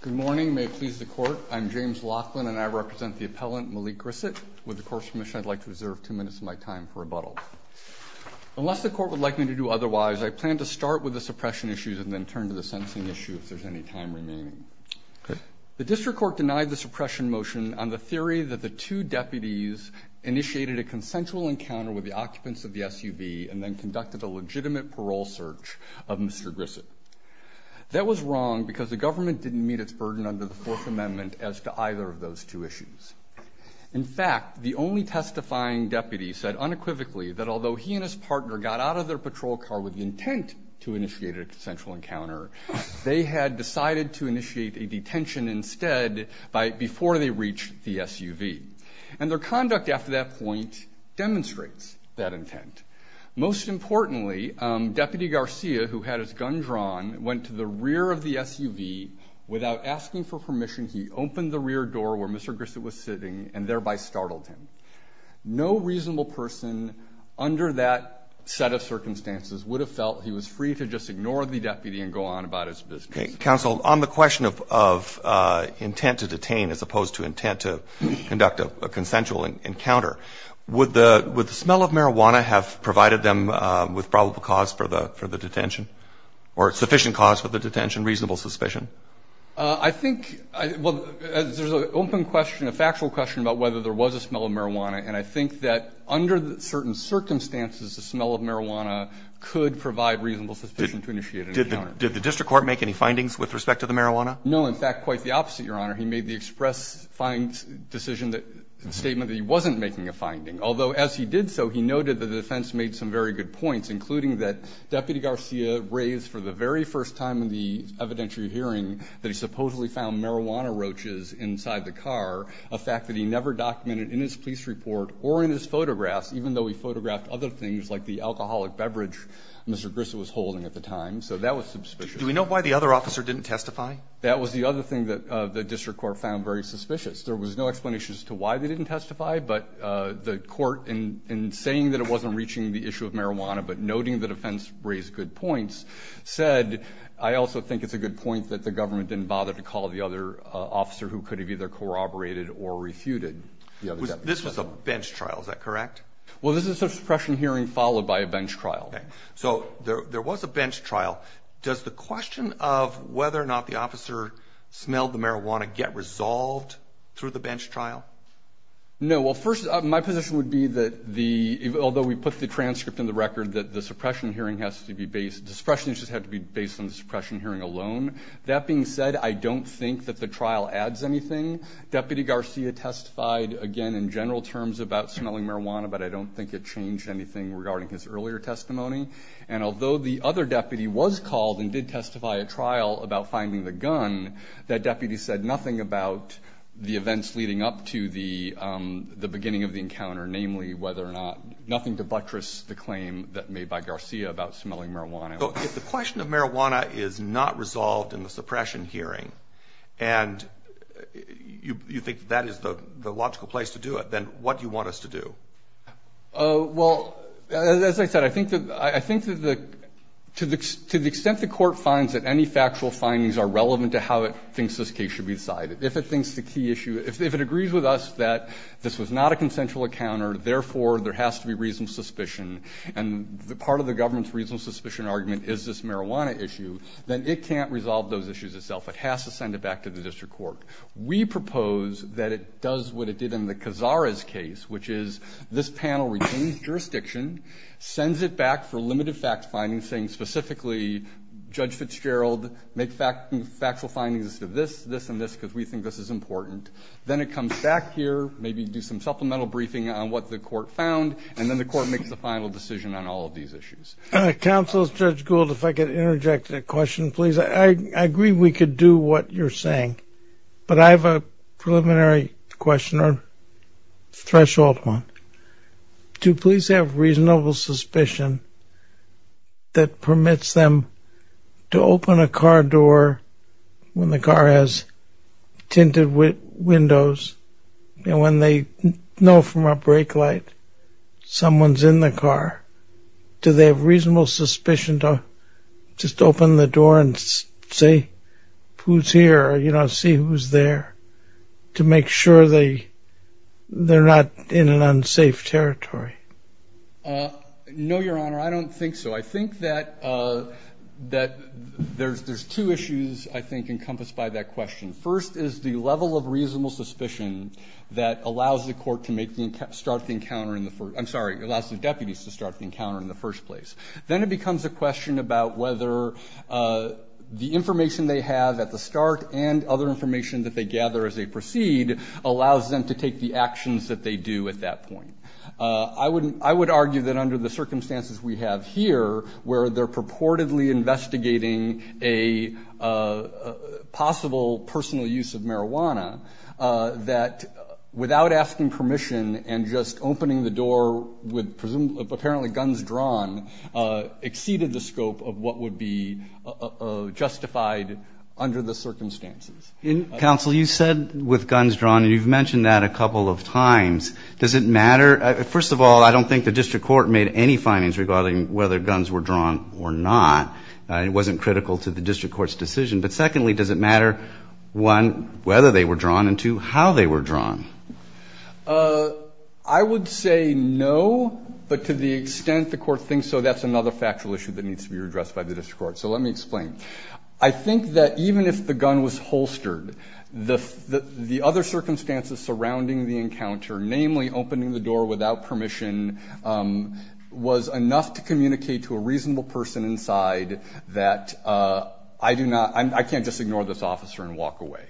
Good morning. May it please the Court, I'm James Laughlin and I represent the appellant Maliek Grissett. With the Court's permission, I'd like to reserve two minutes of my time for rebuttal. Unless the Court would like me to do otherwise, I plan to start with the suppression issues and then turn to the sentencing issue if there's any time remaining. The District Court denied the suppression motion on the theory that the two deputies initiated a consensual encounter with the occupants of the SUV and then conducted a legitimate parole search of Mr. Grissett. That was wrong because the government didn't meet its burden under the Fourth Amendment as to either of those two issues. In fact, the only testifying deputy said unequivocally that although he and his partner got out of their patrol car with the intent to initiate a consensual encounter, they had decided to initiate a detention instead before they reached the SUV. And their conduct after that point demonstrates that intent. Most importantly, Deputy Garcia, who had his gun drawn, went to the rear of the SUV. Without asking for permission, he opened the rear door where Mr. Grissett was sitting and thereby startled him. No reasonable person under that set of circumstances would have felt he was free to just ignore the deputy and go on about his business. Okay. Counsel, on the question of intent to detain as opposed to intent to conduct a consensual encounter, would the smell of marijuana have provided them with probable cause for the detention or sufficient cause for the detention, reasonable suspicion? I think, well, there's an open question, a factual question about whether there was a smell of marijuana. And I think that under certain circumstances, the smell of marijuana could provide reasonable suspicion to initiate an encounter. Did the district court make any findings with respect to the marijuana? No. In fact, quite the opposite, Your Honor. He made the express find decision that statement that he wasn't making a finding. Although as he did so, he noted that the defense made some very good points, including that Deputy Garcia raised for the very first time in the evidentiary hearing that he supposedly found marijuana roaches inside the car, a fact that he never documented in his police report or in his photographs, even though he photographed other things like the alcoholic beverage Mr. Grissett was holding at the time. So that was suspicious. Do we know why the other officer didn't testify? That was the other thing that the district court found very suspicious. There was no explanation as to why they didn't testify. But the court, in saying that it wasn't reaching the issue of marijuana, but noting the defense raised good points, said I also think it's a good point that the government didn't bother to call the other officer who could have either corroborated or refuted. This was a bench trial. Is that correct? Well, this is a suppression hearing followed by a bench trial. So there was a bench trial. Does the question of whether or not the officer smelled the marijuana get resolved through the bench trial? No. Well, first, my position would be that although we put the transcript in the record that the suppression hearing has to be based on the suppression hearing alone, that being said, I don't think that the trial adds anything. Deputy Garcia testified, again, in general terms about smelling marijuana, but I don't think it changed anything regarding his earlier testimony. And although the other deputy was called and did testify at trial about finding the gun, that deputy said nothing about the events leading up to the beginning of the encounter, namely whether or not, nothing to buttress the claim that made by Garcia about smelling marijuana. So if the question of marijuana is not resolved in the suppression hearing and you think that that is the logical place to do it, then what do you want us to do? Well, as I said, I think that the to the extent the court finds that any factual findings are relevant to how it thinks this case should be decided. If it thinks the key issue – if it agrees with us that this was not a consensual encounter, therefore, there has to be reasonable suspicion, and part of the government's reasonable suspicion argument is this marijuana issue, then it can't resolve those issues itself. It has to send it back to the district court. We propose that it does what it did in the Cazares case, which is this panel retains jurisdiction, sends it back for limited facts findings, saying specifically Judge Fitzgerald, make factual findings to this, this, and this because we think this is important. Then it comes back here, maybe do some supplemental briefing on what the court found, and then the court makes the final decision on all of these issues. Counsel, Judge Gould, if I could interject a question, please. I agree we could do what you're saying, but I have a preliminary question or threshold one. Do police have reasonable suspicion that permits them to open a car door when the car has tinted windows, and when they know from a brake light someone's in the car, do they have reasonable suspicion to just open the door and see who's here, you know, see who's there to make sure they're not in an unsafe territory? No, Your Honor, I don't think so. I think that there's two issues, I think, encompassed by that question. First is the level of reasonable suspicion that allows the court to start the encounter in the first I'm sorry, allows the deputies to start the encounter in the first place. Then it becomes a question about whether the information they have at the start and other allows them to take the actions that they do at that point. I would argue that under the circumstances we have here, where they're purportedly investigating a possible personal use of marijuana, that without asking permission and just opening the door with apparently guns drawn exceeded the scope of what would be justified under the circumstances. Counsel, you said with guns drawn, and you've mentioned that a couple of times. Does it matter? First of all, I don't think the district court made any findings regarding whether guns were drawn or not. It wasn't critical to the district court's decision. But secondly, does it matter, one, whether they were drawn and, two, how they were drawn? I would say no, but to the extent the court thinks so, that's another factual issue that needs to be addressed by the district court. So let me explain. I think that even if the gun was holstered, the other circumstances surrounding the encounter, namely opening the door without permission, was enough to communicate to a reasonable person inside that I do not, I can't just ignore this officer and walk away.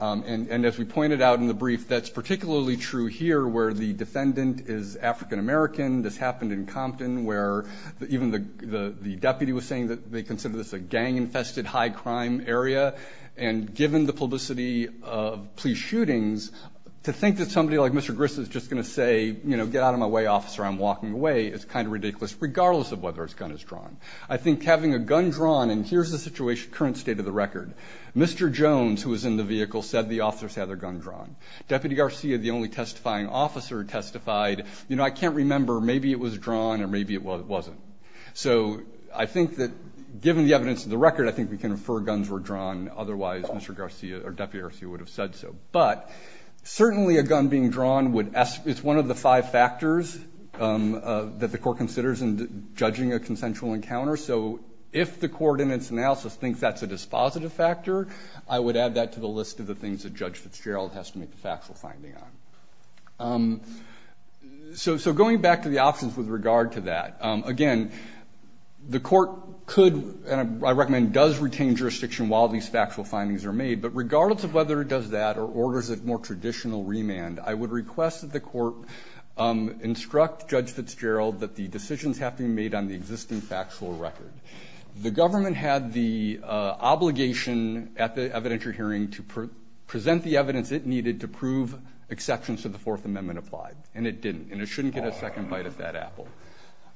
And as we pointed out in the brief, that's particularly true here where the defendant is African American. This happened in Compton where even the deputy was saying that they consider this a gang infested high crime area. And given the publicity of police shootings, to think that somebody like Mr. Grist is just going to say, you know, get out of my way, officer, I'm walking away, is kind of ridiculous, regardless of whether his gun is drawn. I think having a gun drawn, and here's the situation, current state of the record. Mr. Jones, who was in the vehicle, said the officers had their gun drawn. Deputy Garcia, the only testifying officer, testified, you know, I can't remember. Maybe it was drawn or maybe it wasn't. So I think that given the evidence of the record, I think we can infer guns were drawn. Otherwise, Mr. Garcia or Deputy Garcia would have said so. But certainly a gun being drawn would, it's one of the five factors that the court considers in judging a consensual encounter. So if the court in its analysis thinks that's a dispositive factor, I would add that to the list of the things that Judge Fitzgerald has to make the factual finding on. So going back to the options with regard to that, again, the court could and I recommend does retain jurisdiction while these factual findings are made. But regardless of whether it does that or orders a more traditional remand, I would request that the court instruct Judge Fitzgerald that the decisions have to be made on the existing factual record. The government had the obligation at the evidentiary hearing to present the evidence it needed to prove exceptions to the Fourth Amendment applied. And it didn't. And it shouldn't get a second bite of that apple.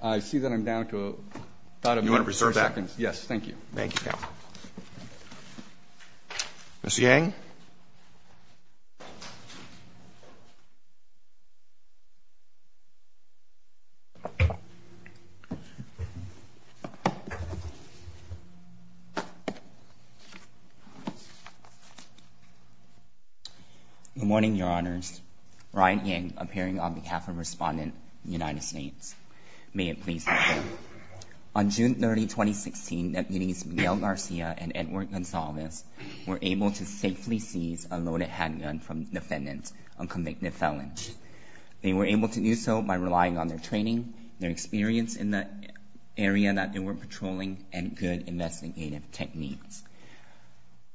I see that I'm down to about a couple of seconds. Roberts. You want to reserve that? Yes. Thank you. Thank you, counsel. Mr. Yang. Good morning, Your Honors. Ryan Yang, appearing on behalf of Respondent of the United States. May it please the Court. On June 30, 2016, deputies Miguel Garcia and Edward Gonzalez were able to safely seize a loaded handgun from defendants on convicted felons. They were able to do so by relying on their training, their experience in the area that they were patrolling, and good investigative techniques.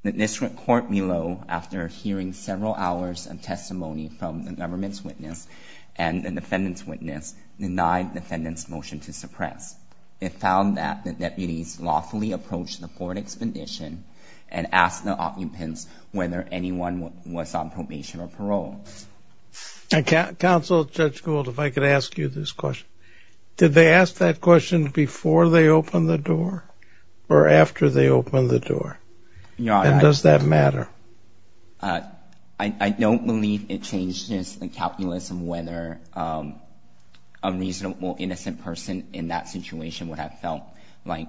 The district court below, after hearing several hours of testimony from the government's witness and the defendant's witness, denied the defendant's motion to suppress. It found that the deputies lawfully approached the forward expedition and asked the occupants whether anyone was on probation or parole. Counsel, Judge Gould, if I could ask you this question. Did they ask that question before they opened the door or after they opened the door? And does that matter? I don't believe it changes the calculus of whether a reasonable, innocent person in that situation would have felt like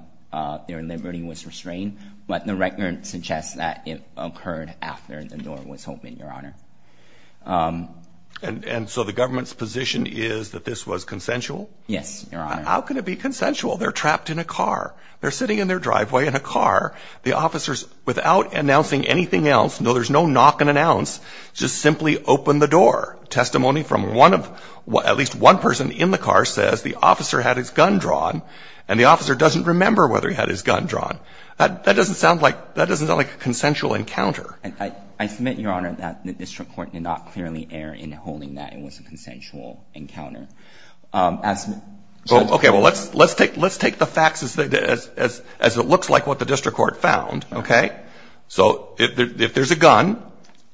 their liberty was restrained. But the record suggests that it occurred after the door was open, Your Honor. And so the government's position is that this was consensual? Yes, Your Honor. How can it be consensual? They're trapped in a car. They're sitting in their driveway in a car. The officers, without announcing anything else, no, there's no knock and announce, just simply open the door. Testimony from one of at least one person in the car says the officer had his gun drawn and the officer doesn't remember whether he had his gun drawn. That doesn't sound like a consensual encounter. I submit, Your Honor, that the district court did not clearly err in holding that it was a consensual encounter. Okay. Well, let's take the facts as it looks like what the district court found, okay? So if there's a gun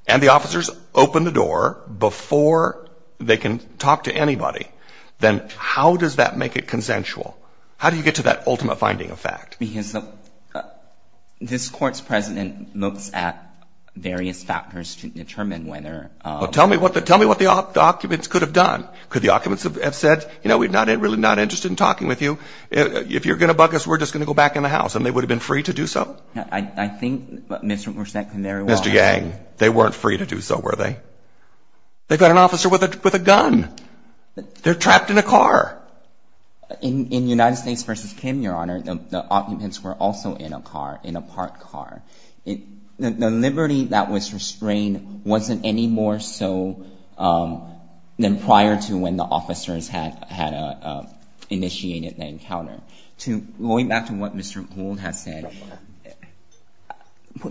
and the officers open the door before they can talk to anybody, then how does that make it consensual? How do you get to that ultimate finding of fact? Because this court's president looks at various factors to determine whether. Well, tell me what the occupants could have done. Could the occupants have said, you know, we're really not interested in talking with you. If you're going to bug us, we're just going to go back in the house. And they would have been free to do so? I think Mr. Gorsuch can very well. Mr. Yang, they weren't free to do so, were they? They're trapped in a car. In United States v. Kim, Your Honor, the occupants were also in a car, in a parked car. The liberty that was restrained wasn't any more so than prior to when the officers had initiated the encounter. Going back to what Mr. Gould has said,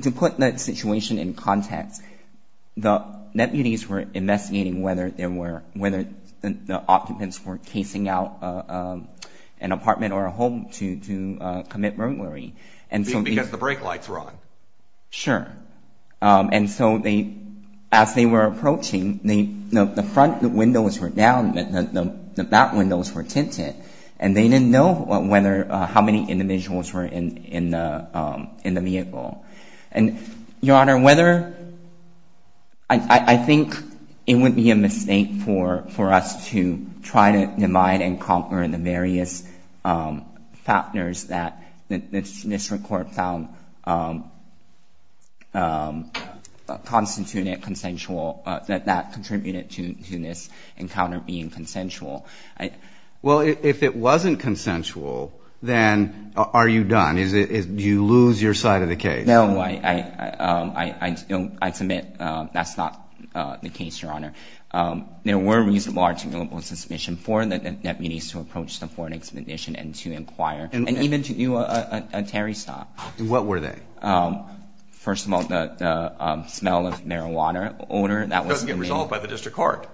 to put that situation in context, the deputies were investigating whether the occupants were casing out an apartment or a home to commit murdery. Because the brake lights were on. Sure. And so as they were approaching, the front windows were down, the back windows were tinted, and they didn't know how many individuals were in the vehicle. And, Your Honor, whether – I think it would be a mistake for us to try to divide and conquer the various factors that this Court found constituted consensual, that that contributed to this encounter being consensual. Well, if it wasn't consensual, then are you done? Do you lose your side of the case? No, I submit that's not the case, Your Honor. There were reasonable, articulable suspicions for the deputies to approach the foreign expedition and to inquire, and even to do a Terry stop. What were they? First of all, the smell of marijuana odor that was – That was resolved by the District Court.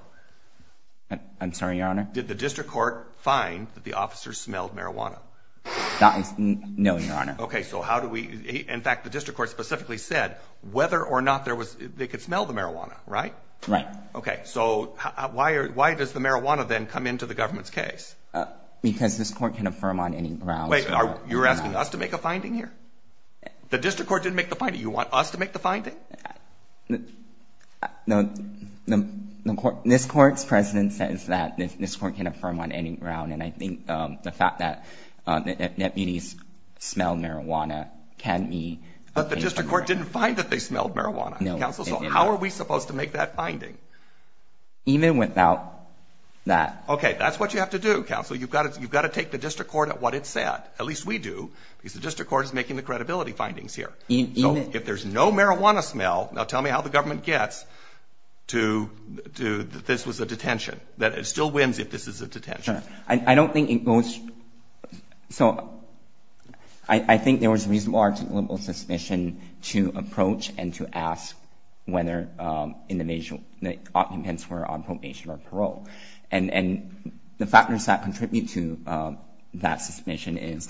I'm sorry, Your Honor? Did the District Court find that the officers smelled marijuana? No, Your Honor. Okay, so how do we – in fact, the District Court specifically said whether or not they could smell the marijuana, right? Right. Okay, so why does the marijuana then come into the government's case? Because this Court can affirm on any grounds. Wait, you're asking us to make a finding here? The District Court didn't make the finding. You want us to make the finding? No, this Court's precedent says that this Court can affirm on any ground, and I think the fact that the deputies smelled marijuana can be – But the District Court didn't find that they smelled marijuana. No, it didn't. Counsel, so how are we supposed to make that finding? Even without that – Okay, that's what you have to do, Counsel. You've got to take the District Court at what it said, at least we do, because the District Court is making the credibility findings here. Even – So if there's no marijuana smell, now tell me how the government gets to – that this was a detention, that it still wins if this is a detention. I don't think it goes – So I think there was a reasonable articulable suspicion to approach and to ask whether the occupants were on probation or parole. And the factors that contribute to that suspicion is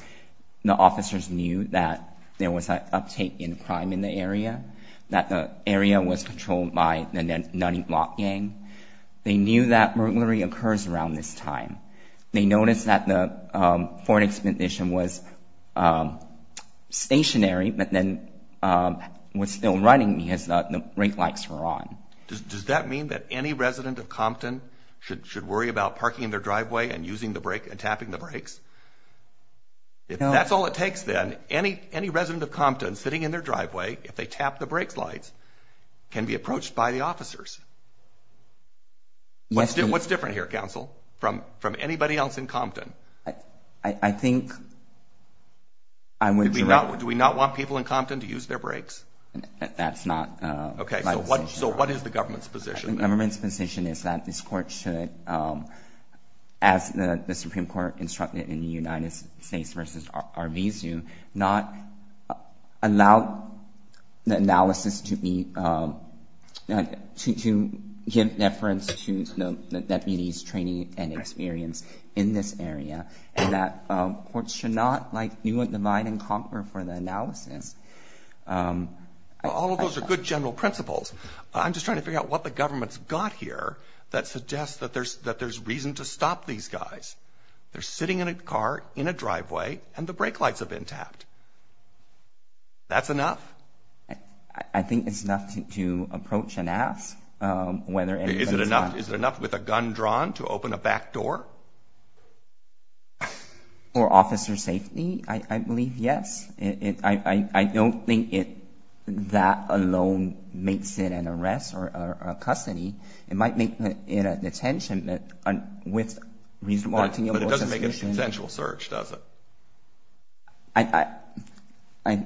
the officers knew that there was an uptick in crime in the area, that the area was controlled by the Nanny Block gang. They knew that burglary occurs around this time. They noticed that the foreign expedition was stationary but then was still running because the brake lights were on. Does that mean that any resident of Compton should worry about parking in their driveway and using the brake and tapping the brakes? If that's all it takes then, any resident of Compton sitting in their driveway, if they tap the brake lights, can be approached by the officers. What's different here, counsel, from anybody else in Compton? I think I would – Do we not want people in Compton to use their brakes? That's not my position. Okay, so what is the government's position? The government's position is that this court should, as the Supreme Court instructed in the United States v. Arvizu, not allow the analysis to be – to give deference to the deputies' training and experience in this area and that courts should not, like, be what divide and conquer for the analysis. All of those are good general principles. I'm just trying to figure out what the government's got here that suggests that there's reason to stop these guys. They're sitting in a car in a driveway and the brake lights have been tapped. That's enough? I think it's enough to approach and ask whether anybody's – Is it enough with a gun drawn to open a back door? For officer safety, I believe yes. I don't think that alone makes it an arrest or a custody. It might make it a detention with reasonable – But it doesn't make a consensual search, does it?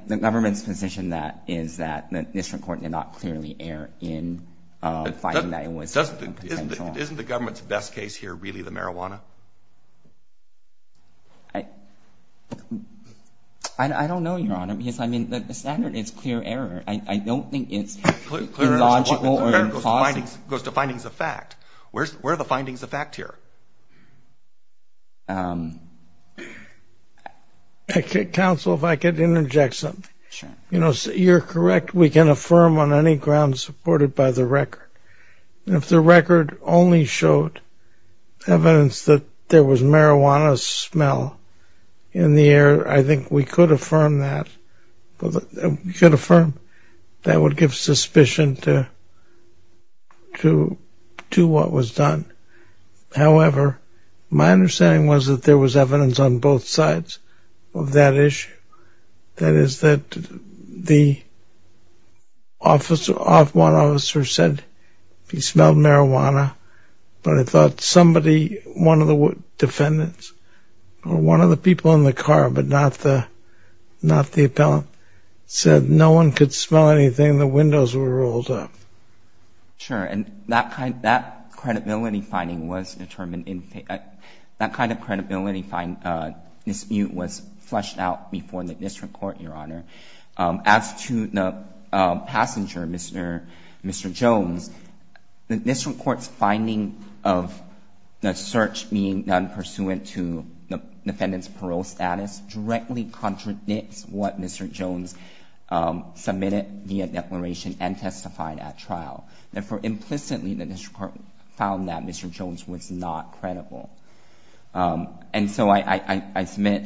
The government's position is that the district court did not clearly err in finding that it was consensual. Isn't the government's best case here really the marijuana? I don't know, Your Honor, because, I mean, the standard is clear error. I don't think it's illogical or impossible. Clear error goes to findings of fact. Where are the findings of fact here? Counsel, if I could interject something. Sure. You know, you're correct. We can affirm on any grounds supported by the record. If the record only showed evidence that there was marijuana smell in the air, I think we could affirm that. We could affirm that would give suspicion to what was done. However, my understanding was that there was evidence on both sides of that issue. That is that the officer, one officer said he smelled marijuana, but I thought somebody, one of the defendants, or one of the people in the car, but not the appellant, said no one could smell anything. The windows were rolled up. Sure, and that kind of credibility finding was determined in – that kind of credibility dispute was fleshed out before the district court, Your Honor. As to the passenger, Mr. Jones, the district court's finding of the search being done pursuant to the defendant's parole status directly contradicts what Mr. Jones submitted via declaration and testified at trial. Therefore, implicitly, the district court found that Mr. Jones was not credible. And so I submit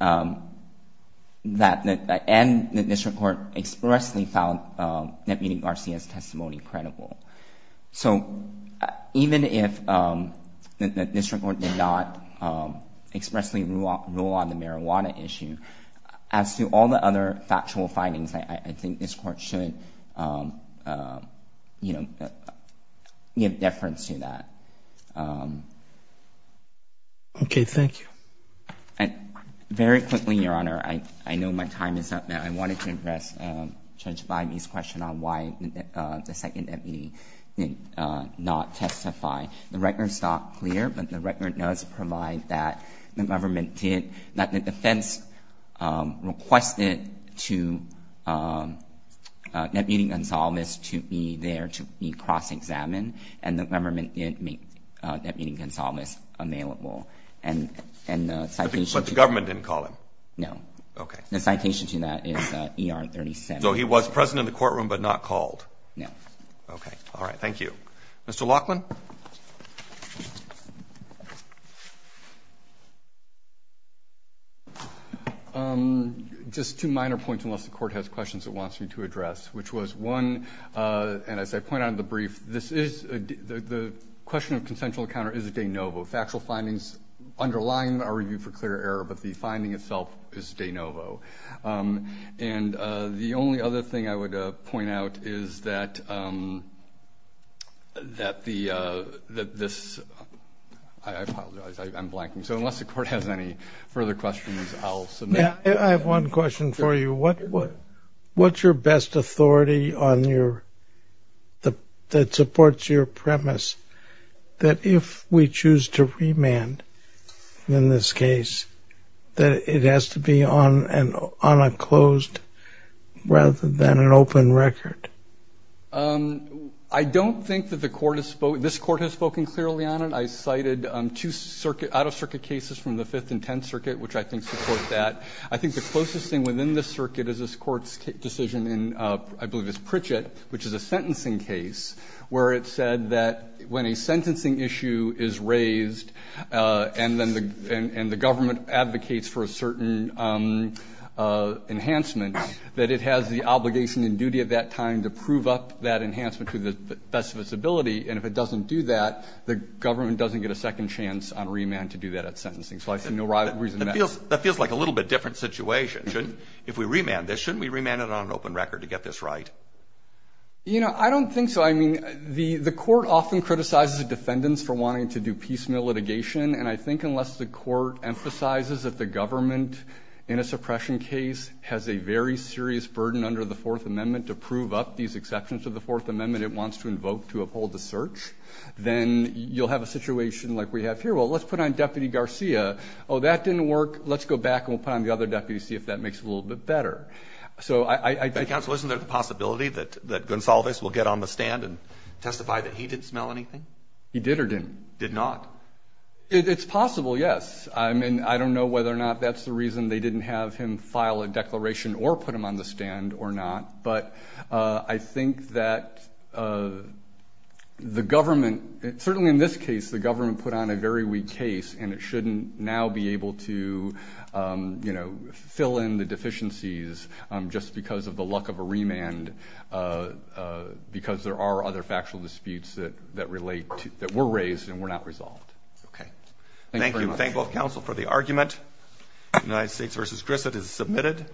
that – and the district court expressly found Deputy Garcia's testimony credible. So even if the district court did not expressly rule on the marijuana issue, as to all the other factual findings, I think this Court should, you know, give deference to that. Okay. Thank you. Very quickly, Your Honor, I know my time is up now. I wanted to address Judge Blimey's question on why the second deputy did not testify. The record's not clear, but the record does provide that the government did – that the defense requested to Deputy Gonzalez to be there to be cross-examined, and the government did make Deputy Gonzalez available. And the citation to that – But the government didn't call him? No. Okay. The citation to that is ER 37. No. Okay. All right. Thank you. Mr. Laughlin. Just two minor points, unless the Court has questions it wants me to address, which was, one, and as I point out in the brief, this is – the question of consensual encounter is de novo. Factual findings underline our review for clear error, but the finding itself is de novo. And the only other thing I would point out is that this – I apologize, I'm blanking. So unless the Court has any further questions, I'll submit. I have one question for you. What's your best authority on your – that supports your premise that if we choose to remand in this case, that it has to be on a closed rather than an open record? I don't think that the Court has – this Court has spoken clearly on it. I cited two out-of-circuit cases from the Fifth and Tenth Circuit, which I think support that. I think the closest thing within this circuit is this Court's decision in, I believe it's Pritchett, which is a sentencing case where it said that when a sentencing issue is raised and then the government advocates for a certain enhancement, that it has the obligation and duty at that time to prove up that enhancement to the best of its ability. And if it doesn't do that, the government doesn't get a second chance on remand to do that at sentencing. So I see no reason not to. That feels like a little bit different situation. If we remand this, shouldn't we remand it on an open record to get this right? You know, I don't think so. I mean, the Court often criticizes the defendants for wanting to do piecemeal litigation. And I think unless the Court emphasizes that the government in a suppression case has a very serious burden under the Fourth Amendment to prove up these exceptions to the Fourth Amendment it wants to invoke to uphold the search, then you'll have a situation like we have here. Well, let's put it on Deputy Garcia. Oh, that didn't work. Let's go back and we'll put it on the other deputy, see if that makes it a little bit better. So I think that's a possibility. That Gonsalves will get on the stand and testify that he didn't smell anything? He did or didn't? Did not. It's possible, yes. I mean, I don't know whether or not that's the reason they didn't have him file a declaration or put him on the stand or not. But I think that the government, certainly in this case, the government put on a very weak case and it shouldn't now be able to fill in the deficiencies just because of the luck of a remand because there are other factual disputes that relate, that were raised and were not resolved. Okay. Thank you very much. Thank you. Thank both counsel for the argument. United States v. Grissett is submitted.